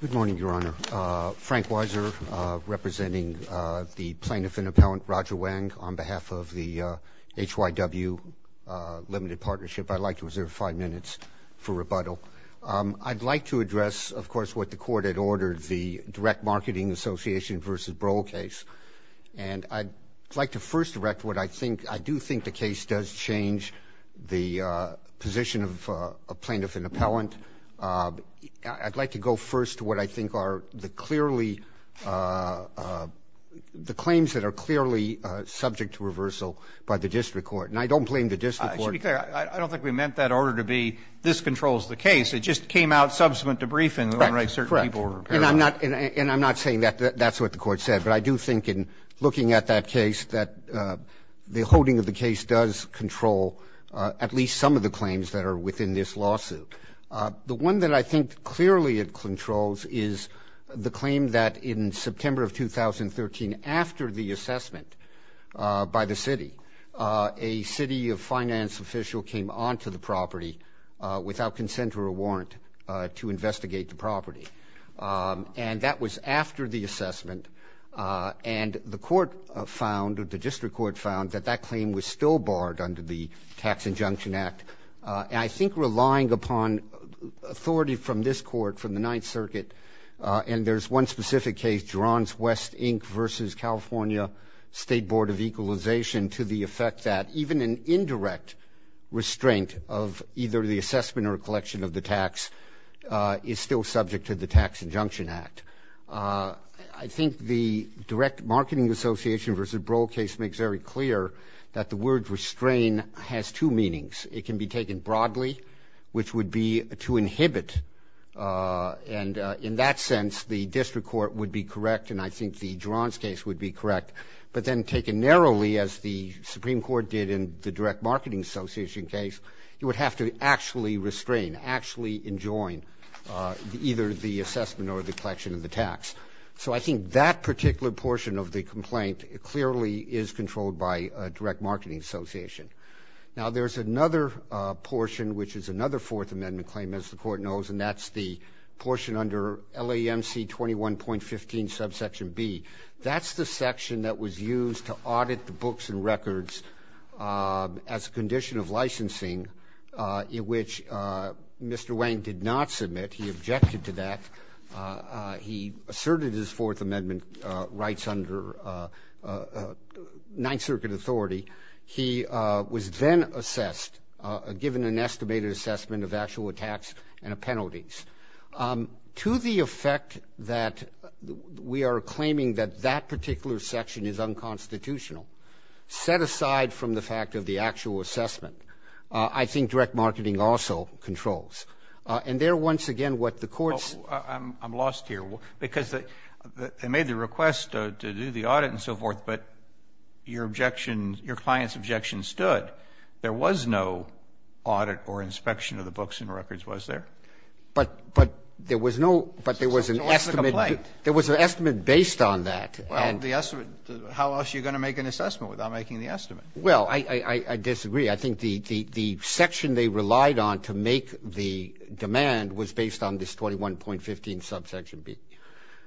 Good morning, Your Honor. Frank Weiser, representing the Plaintiff and Appellant Roger Wang on behalf of the HYW Limited Partnership. I'd like to reserve five minutes for rebuttal. I'd like to address, of course, what the court had ordered, the direct marketing association versus Broll case. And I'd like to first direct what I think, I do think the case does change the position of a Plaintiff and Appellant. I'd like to go first to what I think are the clearly, the claims that are clearly subject to reversal by the district court. And I don't blame the district court. I should be clear, I don't think we meant that order to be, this controls the case. It just came out subsequent to briefing when, right, certain people were appearing. Correct. Correct. And I'm not saying that that's what the court said. But I do think in looking at that case that the holding of the case does control at least some of the claims that are within this lawsuit. The one that I think clearly it controls is the claim that in September of 2013, after the assessment by the city, a city of finance official came onto the property without consent or a warrant to investigate the property. And that was after the assessment. And the assessment was still barred under the Tax Injunction Act. And I think relying upon authority from this court, from the Ninth Circuit, and there's one specific case, Geron's West, Inc. versus California State Board of Equalization, to the effect that even an indirect restraint of either the assessment or collection of the tax is still subject to the Tax Injunction Act. I think the direct marketing association versus Broll case makes very clear that the word restrain has two meanings. It can be taken broadly, which would be to inhibit. And in that sense, the district court would be correct. And I think the Geron's case would be correct. But then taken narrowly, as the Supreme Court did in the direct marketing association case, you would have to actually restrain, actually enjoin either the assessment or the collection of the tax. So I think that particular portion of the complaint clearly is controlled by direct marketing association. Now, there's another portion, which is another Fourth Amendment claim, as the Court knows, and that's the portion under LAMC 21.15, subsection B. That's the section that was used to audit the books and records as a condition of licensing in which Mr. Wang did not submit. He objected to that. He asserted his Fourth Amendment rights under Ninth Circuit authority. He was then assessed, given an estimated assessment of actual attacks and penalties. To the effect that we are claiming that that particular section is unconstitutional, set aside from the fact of the actual assessment, I think direct marketing also controls. And there, once again, what the Court's ---- Roberts, I'm lost here, because they made the request to do the audit and so forth, but your objection, your client's objection stood. There was no audit or inspection of the books and records, was there? But there was no, but there was an estimate, there was an estimate based on that. Well, the estimate, how else are you going to make an assessment without making the estimate? Well, I disagree. I think the section they relied on to make the demand was based on this 21.15, subsection B.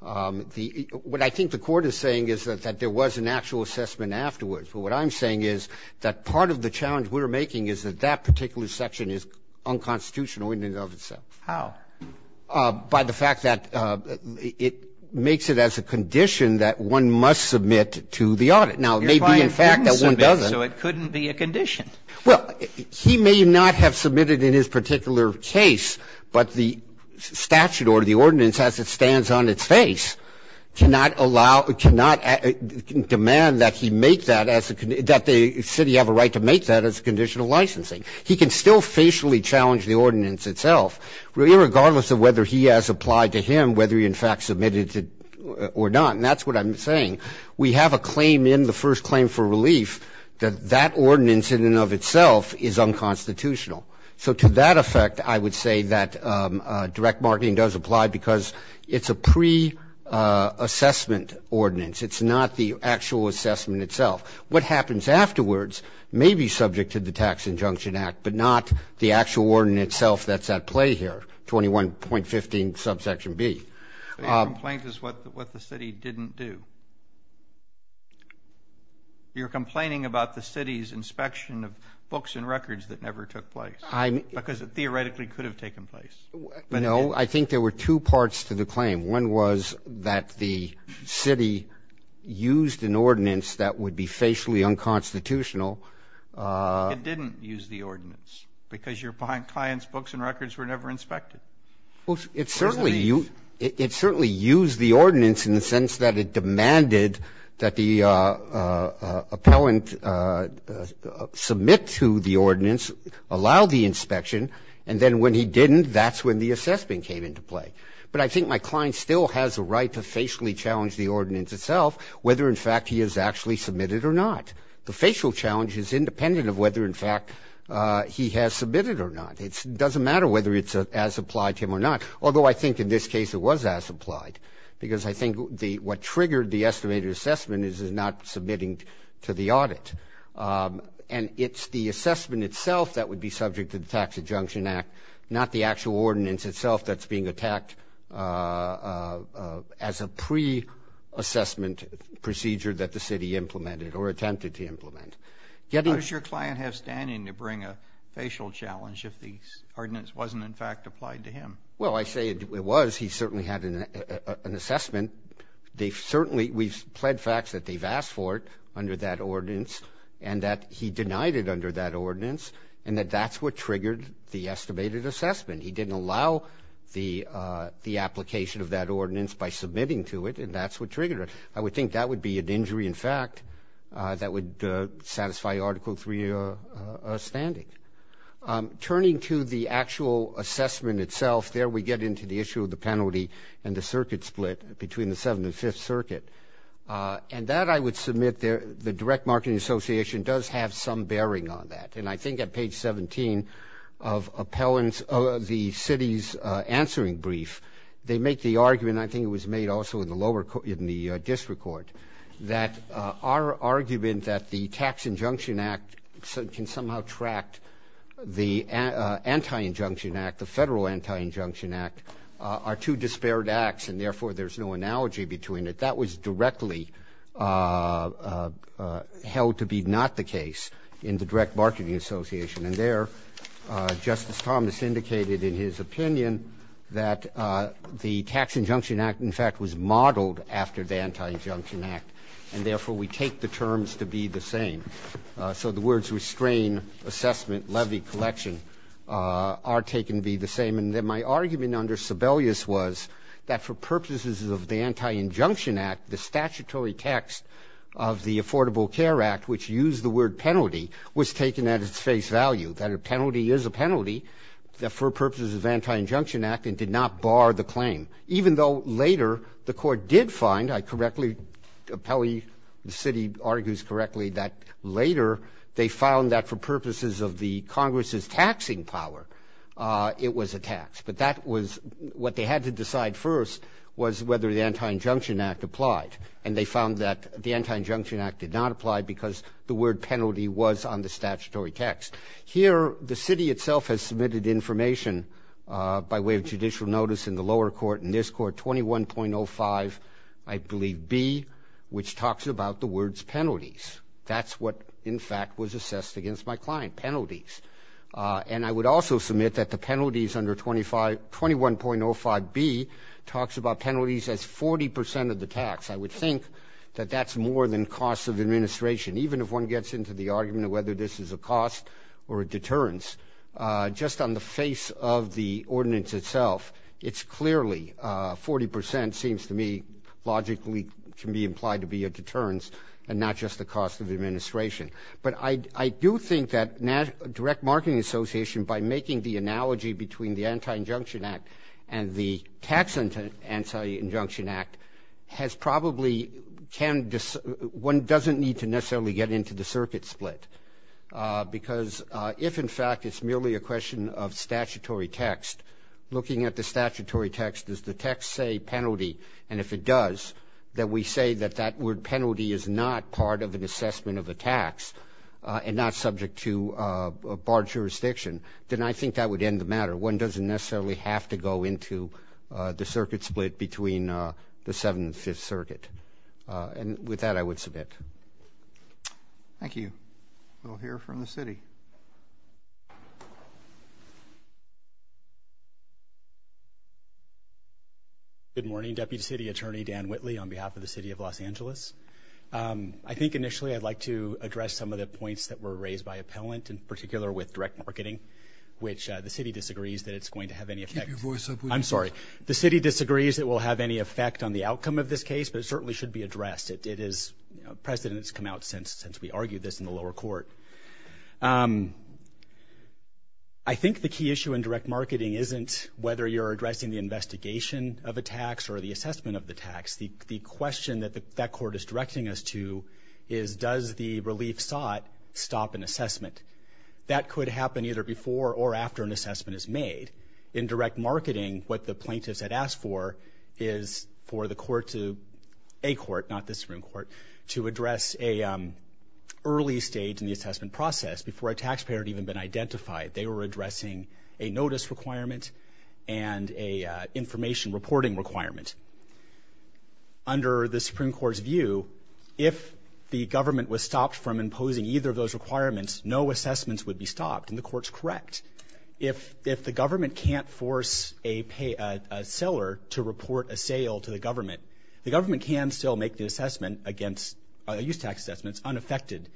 What I think the Court is saying is that there was an actual assessment afterwards. But what I'm saying is that part of the challenge we're making is that that particular section is unconstitutional in and of itself. How? By the fact that it makes it as a condition that one must submit to the audit. Now, it may be in fact that one doesn't. So it couldn't be a condition. Well, he may not have submitted in his particular case, but the statute or the ordinance as it stands on its face cannot allow, cannot demand that he make that as a, that the city have a right to make that as a condition of licensing. He can still facially challenge the ordinance itself, regardless of whether he has applied to him, whether he in fact submitted it or not. And that's what I'm saying. We have a claim in the first claim for relief that that ordinance in and of itself is unconstitutional. So to that effect, I would say that direct marketing does apply because it's a pre-assessment ordinance. It's not the actual assessment itself. What happens afterwards may be subject to the Tax Injunction Act, but not the actual ordinance itself that's at play here, 21.15, subsection B. Your complaint is what the city didn't do. You're complaining about the city's inspection of books and records that never took place because it theoretically could have taken place. No, I think there were two parts to the claim. One was that the city used an ordinance that would be facially unconstitutional. It didn't use the ordinance because your client's books and records were never inspected. Well, it certainly used the ordinance in the sense that it demanded that the appellant submit to the ordinance, allow the inspection, and then when he didn't, that's when the assessment came into play. But I think my client still has a right to facially challenge the ordinance itself, whether in fact he has actually submitted or not. The facial challenge is independent of whether in fact he has submitted or not. It doesn't matter whether it's as applied to him or not, although I think in this case it was as applied because I think what triggered the estimated assessment is not submitting to the audit. And it's the assessment itself that would be subject to the Tax Injunction Act, not the actual ordinance itself that's being attacked as a pre-assessment procedure that the city implemented or attempted to implement. How does your client have standing to bring a facial challenge if the ordinance wasn't in fact applied to him? Well, I say it was. He certainly had an assessment. They've certainly, we've pled facts that they've asked for it under that ordinance and that he denied it under that ordinance and that that's what triggered the estimated assessment. He didn't allow the application of that ordinance by submitting to it and that's what triggered it. I would think that would be an injury in fact that would satisfy Article 3 standing. Turning to the actual assessment itself, there we get into the issue of the penalty and the circuit split between the Seventh and Fifth Circuit. And that I would submit there, the Direct Marketing Association does have some bearing on that. And I think at page 17 of appellants of the city's answering brief, they make the disrecord that our argument that the Tax Injunction Act can somehow track the Anti- Injunction Act, the Federal Anti-Injunction Act are two disparate acts and therefore there's no analogy between it. That was directly held to be not the case in the Direct Marketing Association. And there Justice Thomas indicated in his opinion that the Tax Injunction Act in fact was modeled after the Anti-Injunction Act and therefore we take the terms to be the same. So the words restrain, assessment, levy, collection are taken to be the same. And then my argument under Sebelius was that for purposes of the Anti-Injunction Act, the statutory text of the Affordable Care Act, which used the word penalty, was taken at its face value. That a penalty is a penalty for purposes of Anti-Injunction Act and did not bar the court did find, I correctly, Pelley, the city argues correctly that later they found that for purposes of the Congress's taxing power, it was a tax. But that was what they had to decide first was whether the Anti-Injunction Act applied. And they found that the Anti-Injunction Act did not apply because the word penalty was on the statutory text. Here the city itself has submitted information by way of judicial notice in the lower court, in this court, 21.05, I believe B, which talks about the words penalties. That's what in fact was assessed against my client, penalties. And I would also submit that the penalties under 21.05 B talks about penalties as 40 percent of the tax. I would think that that's more than cost of administration. Even if one gets into the argument of whether this is a cost or a deterrence, just on the face of the ordinance itself, it's clearly 40 percent seems to me logically can be implied to be a deterrence and not just the cost of administration. But I do think that Direct Marketing Association, by making the analogy between the Anti-Injunction Act and the Tax Anti-Injunction Act, has probably can, one doesn't need to necessarily get into the circuit split. Because if, in fact, it's merely a question of statutory text, looking at the statutory text, does the text say penalty? And if it does, then we say that that word penalty is not part of an assessment of a tax and not subject to a barred jurisdiction. Then I think that would end the matter. One doesn't necessarily have to go into the circuit split between the Seventh and Fifth Circuit. And with that, I would submit. Thank you. We'll hear from the city. Good morning, Deputy City Attorney Dan Whitley, on behalf of the city of Los Angeles, I think initially I'd like to address some of the points that were raised by appellant, in particular with direct marketing, which the city disagrees that it's going to have any effect. I'm sorry, the city disagrees that will have any effect on the outcome of this case, but it certainly should be addressed. It is precedent that's come out since we argued this in the lower court. I think the key issue in direct marketing isn't whether you're addressing the investigation of a tax or the assessment of the tax. The question that that court is directing us to is, does the relief sought stop an assessment? That could happen either before or after an assessment is made. In direct marketing, what the plaintiffs had asked for is for the court to a court, not the Supreme Court, to address a early stage in the assessment process before a taxpayer had even been identified. They were addressing a notice requirement and a information reporting requirement. Under the Supreme Court's view, if the government was stopped from imposing either of those requirements, no assessments would be stopped and the court's correct. If if the government can't force a seller to report a sale to the government, the government can make an assessment against a use tax assessments unaffected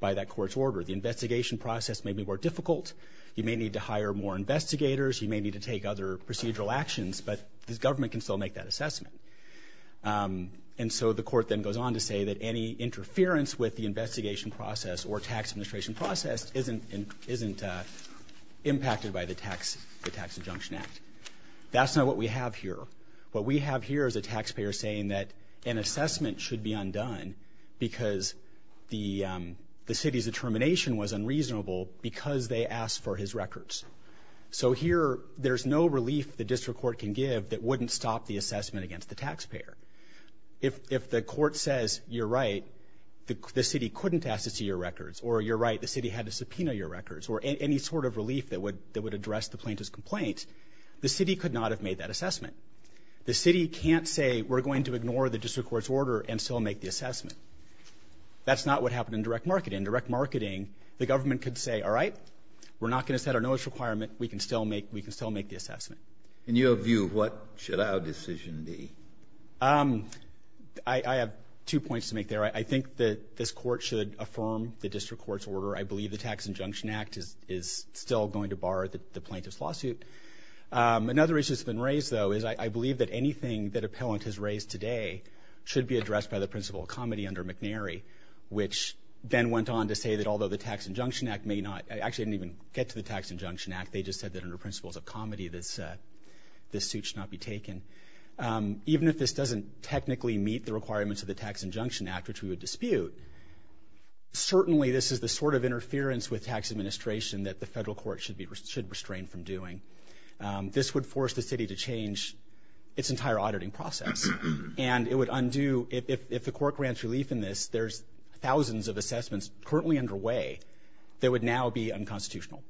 by that court's order. The investigation process may be more difficult. You may need to hire more investigators. You may need to take other procedural actions, but this government can still make that assessment. And so the court then goes on to say that any interference with the investigation process or tax administration process isn't isn't impacted by the tax, the tax injunction act. That's not what we have here. What we have here is a taxpayer saying that an assessment should be undone because the the city's determination was unreasonable because they asked for his records. So here there's no relief the district court can give that wouldn't stop the assessment against the taxpayer. If if the court says, you're right, the city couldn't ask to see your records or you're right, the city had to subpoena your records or any sort of relief that would that would address the plaintiff's complaint. The city could not have made that assessment. The city can't say we're going to ignore the district court's order and still make the assessment. That's not what happened in direct marketing, direct marketing. The government could say, all right, we're not going to set our notice requirement. We can still make we can still make the assessment. In your view, what should our decision be? I have two points to make there. I think that this court should affirm the district court's order. Another issue that's been raised, though, is I believe that anything that appellant has raised today should be addressed by the principle of comedy under McNary, which then went on to say that although the Tax Injunction Act may not actually even get to the Tax Injunction Act, they just said that under principles of comedy, this this suit should not be taken. Even if this doesn't technically meet the requirements of the Tax Injunction Act, which we would dispute, certainly this is the sort of interference with tax administration that the federal court should be should restrain from doing. This would force the city to change its entire auditing process and it would undo if the court grants relief in this. There's thousands of assessments currently underway that would now be unconstitutional.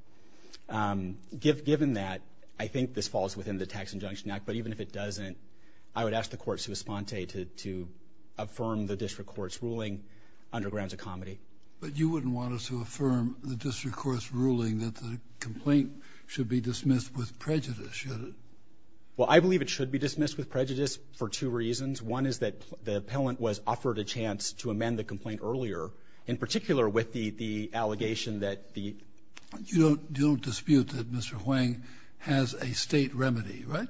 Given that, I think this falls within the Tax Injunction Act. But even if it doesn't, I would ask the court's response to to affirm the district court's ruling under grounds of comedy. But you wouldn't want us to affirm the district court's ruling that the complaint should be dismissed with prejudice, should it? Well, I believe it should be dismissed with prejudice for two reasons. One is that the appellant was offered a chance to amend the complaint earlier, in particular with the the allegation that the. You don't dispute that Mr. Huang has a state remedy, right?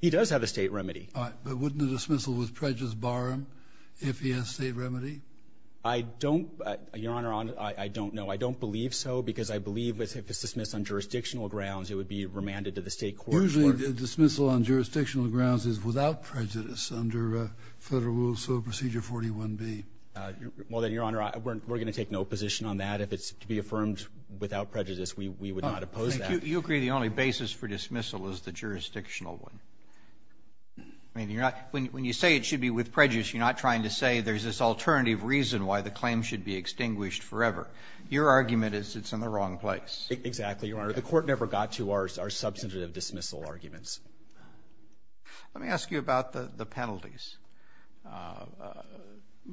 He does have a state remedy. But wouldn't a dismissal with prejudice bar him if he has state remedy? I don't, Your Honor, I don't know. I don't believe so because I believe if it's dismissed on jurisdictional grounds, it would be remanded to the state court. Usually the dismissal on jurisdictional grounds is without prejudice under federal rules, so Procedure 41B. Well, then, Your Honor, we're going to take no position on that. If it's to be affirmed without prejudice, we would not oppose that. You agree the only basis for dismissal is the jurisdictional one. I mean, you're not when you say it should be with prejudice, you're not trying to say there's this alternative reason why the claim should be extinguished forever. Your argument is it's in the wrong place. Exactly, Your Honor. The court never got to our substantive dismissal arguments. Let me ask you about the penalties.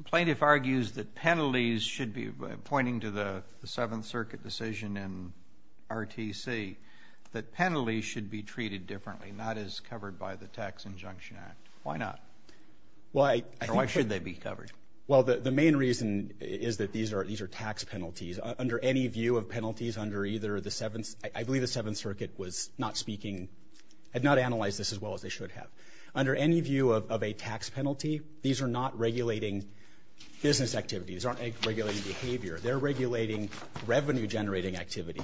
Plaintiff argues that penalties should be, pointing to the Seventh Circuit decision in RTC, that penalties should be treated differently, not as covered by the Tax Injunction Act. Why not? Why should they be covered? Well, the main reason is that these are tax penalties. Under any view of penalties under either the Seventh, I believe the Seventh Circuit was not speaking, had not analyzed this as well as they should have. Under any view of a tax penalty, these are not regulating business activity. These aren't regulating behavior. They're regulating revenue-generating activity,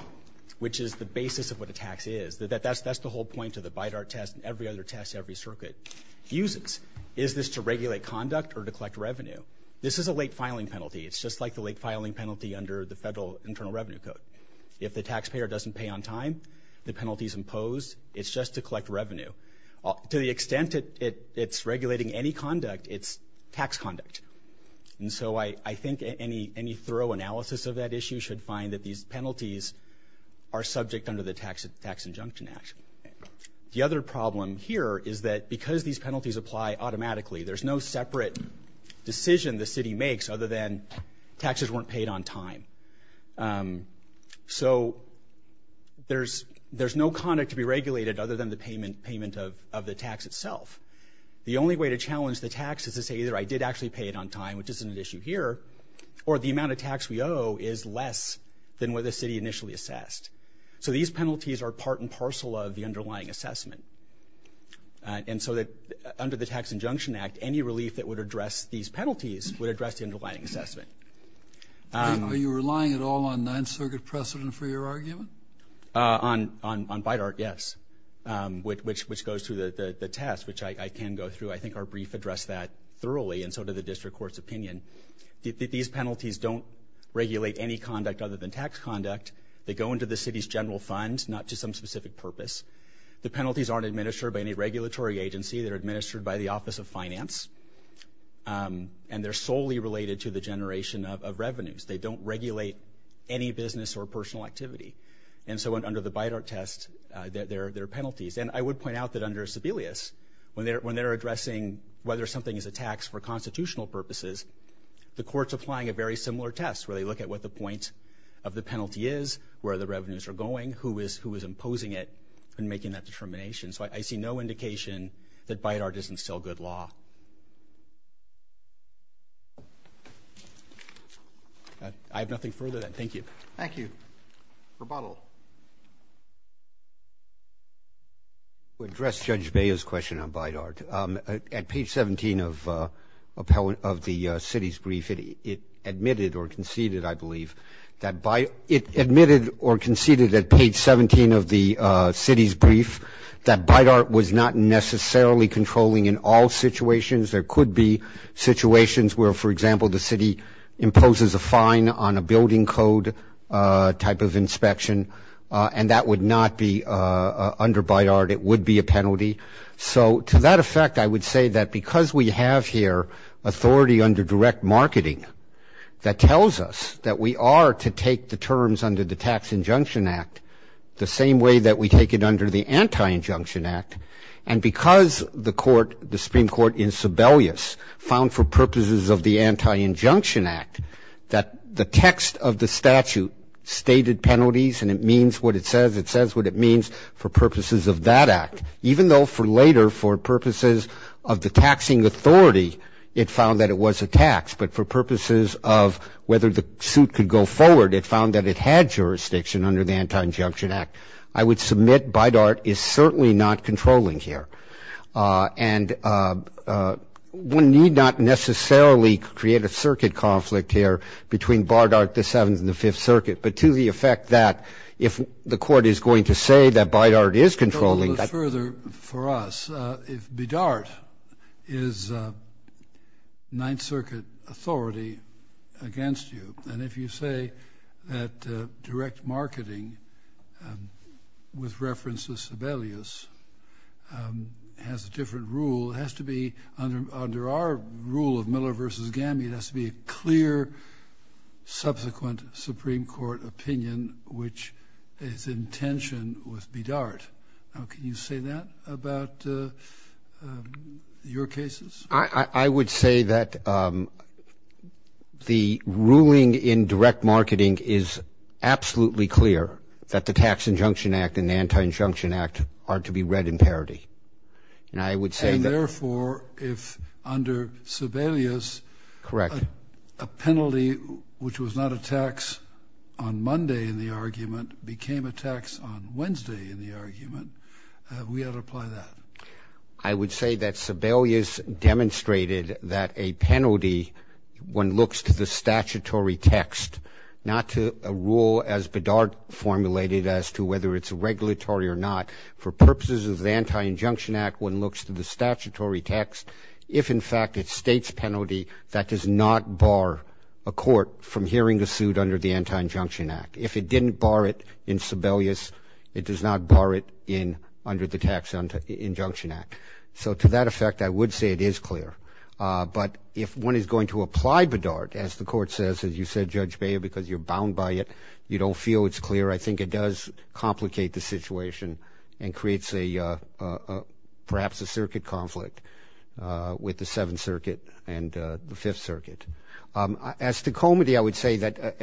which is the basis of what a tax is. That's the whole point of the BIDAR test and every other test every circuit uses, is this to regulate conduct or to collect revenue. This is a late filing penalty. It's just like the late filing penalty under the Federal Internal Revenue Code. If the taxpayer doesn't pay on time, the penalty is imposed. It's just to collect revenue. To the extent it's regulating any conduct, it's tax conduct. And so I think any thorough analysis of that issue should find that these penalties are subject under the Tax Injunction Act. The other problem here is that because these penalties apply automatically, there's no tax. Taxes weren't paid on time. So there's no conduct to be regulated other than the payment of the tax itself. The only way to challenge the tax is to say either I did actually pay it on time, which isn't an issue here, or the amount of tax we owe is less than what the city initially assessed. So these penalties are part and parcel of the underlying assessment. And so under the Tax Injunction Act, any relief that would address these penalties would address the underlying assessment. Are you relying at all on Ninth Circuit precedent for your argument? On BIDAR, yes, which goes through the test, which I can go through. I think our brief addressed that thoroughly, and so did the district court's opinion. These penalties don't regulate any conduct other than tax conduct. They go into the city's general funds, not to some specific purpose. The penalties aren't administered by any regulatory agency. They're administered by the Office of Finance, and they're solely related to the generation of revenues. They don't regulate any business or personal activity. And so under the BIDAR test, there are penalties. And I would point out that under Sebelius, when they're addressing whether something is a tax for constitutional purposes, the court's applying a very similar test where they look at what the point of the penalty is, where the revenues are going, who is imposing it and making that determination. So I see no indication that BIDAR isn't still good law. I have nothing further to add. Thank you. Thank you. Rebuttal. To address Judge Baio's question on BIDAR, at page 17 of the city's brief, it admitted or conceded, I believe, that BIDAR was not necessarily controlling in all situations. There could be situations where, for example, the city imposes a fine on a building code type of inspection, and that would not be under BIDAR. It would be a penalty. So to that effect, I would say that because we have here authority under direct marketing that tells us that we are to take the terms under the Tax Injunction Act the same way that we take it under the Anti-Injunction Act. And because the Supreme Court in Sebelius found for purposes of the Anti-Injunction Act that the text of the statute stated penalties and it means what it says, it says what it means for purposes of that act, even though for later, for purposes of the taxing authority, it found that it was a tax. But for purposes of whether the suit could go forward, it found that it had jurisdiction under the Anti-Injunction Act. I would submit BIDAR is certainly not controlling here. And one need not necessarily create a circuit conflict here between BIDAR, the Seventh and the Fifth Circuit. But to the effect that if the court is going to say that BIDAR is controlling. Further for us, if BIDAR is Ninth Circuit authority against you, and if you say that direct marketing, with reference to Sebelius, has a different rule, it has to be under our rule of Miller v. Gamby, it has to be a clear, subsequent Supreme Court opinion, which is in tension with BIDAR. Now, can you say that about your cases? I would say that the ruling in direct marketing is absolutely clear that the Tax Injunction Act and the Anti-Injunction Act are to be read in parity. And I would say that. And therefore, if under Sebelius, a penalty which was not a tax on Monday in the argument became a tax on Wednesday in the argument, we ought to apply that. I would say that Sebelius demonstrated that a penalty, when looks to the statutory text, not to a rule as BIDAR formulated as to whether it's regulatory or not, for purposes of the Anti-Injunction Act, when looks to the statutory text, if in fact it states penalty, that does not bar a court from hearing a suit under the Anti-Injunction Act. If it didn't bar it in Sebelius, it does not bar it in under the Tax Injunction Act. So to that effect, I would say it is clear. But if one is going to apply BIDAR, as the court says, as you said, Judge Beyer, because you're bound by it, you don't feel it's clear. I think it does complicate the situation and creates a perhaps a circuit conflict with the Seventh Circuit and the Fifth Circuit. As to Comedy, I would say that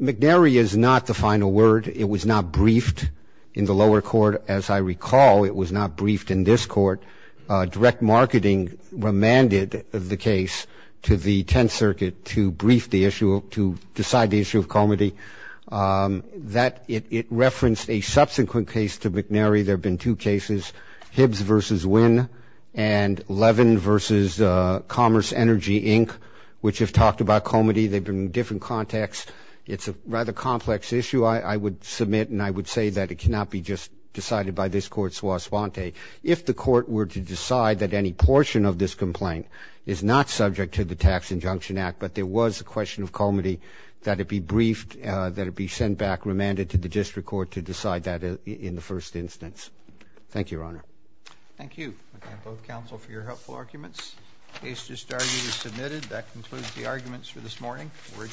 McNary is not the final word. It was not briefed in the lower court. As I recall, it was not briefed in this court. Direct marketing remanded the case to the Tenth Circuit to brief the issue, to decide the issue of Comedy, that it referenced a subsequent case to McNary. There have been two cases, Hibbs v. Wynn and Levin v. Commerce Energy, Inc., which have talked about Comedy. They've been in different contexts. It's a rather complex issue, I would submit, and I would say that it cannot be just decided by this court, sua sponte. If the court were to decide that any portion of this complaint is not subject to the Tax Injunction Act, but there was a question of Comedy, that it be briefed, that it be sent back, remanded to the district court to decide that in the first instance. Thank you, Your Honor. Thank you, both counsel, for your helpful arguments. Case just argued is submitted. That concludes the arguments for this morning. We're adjourned.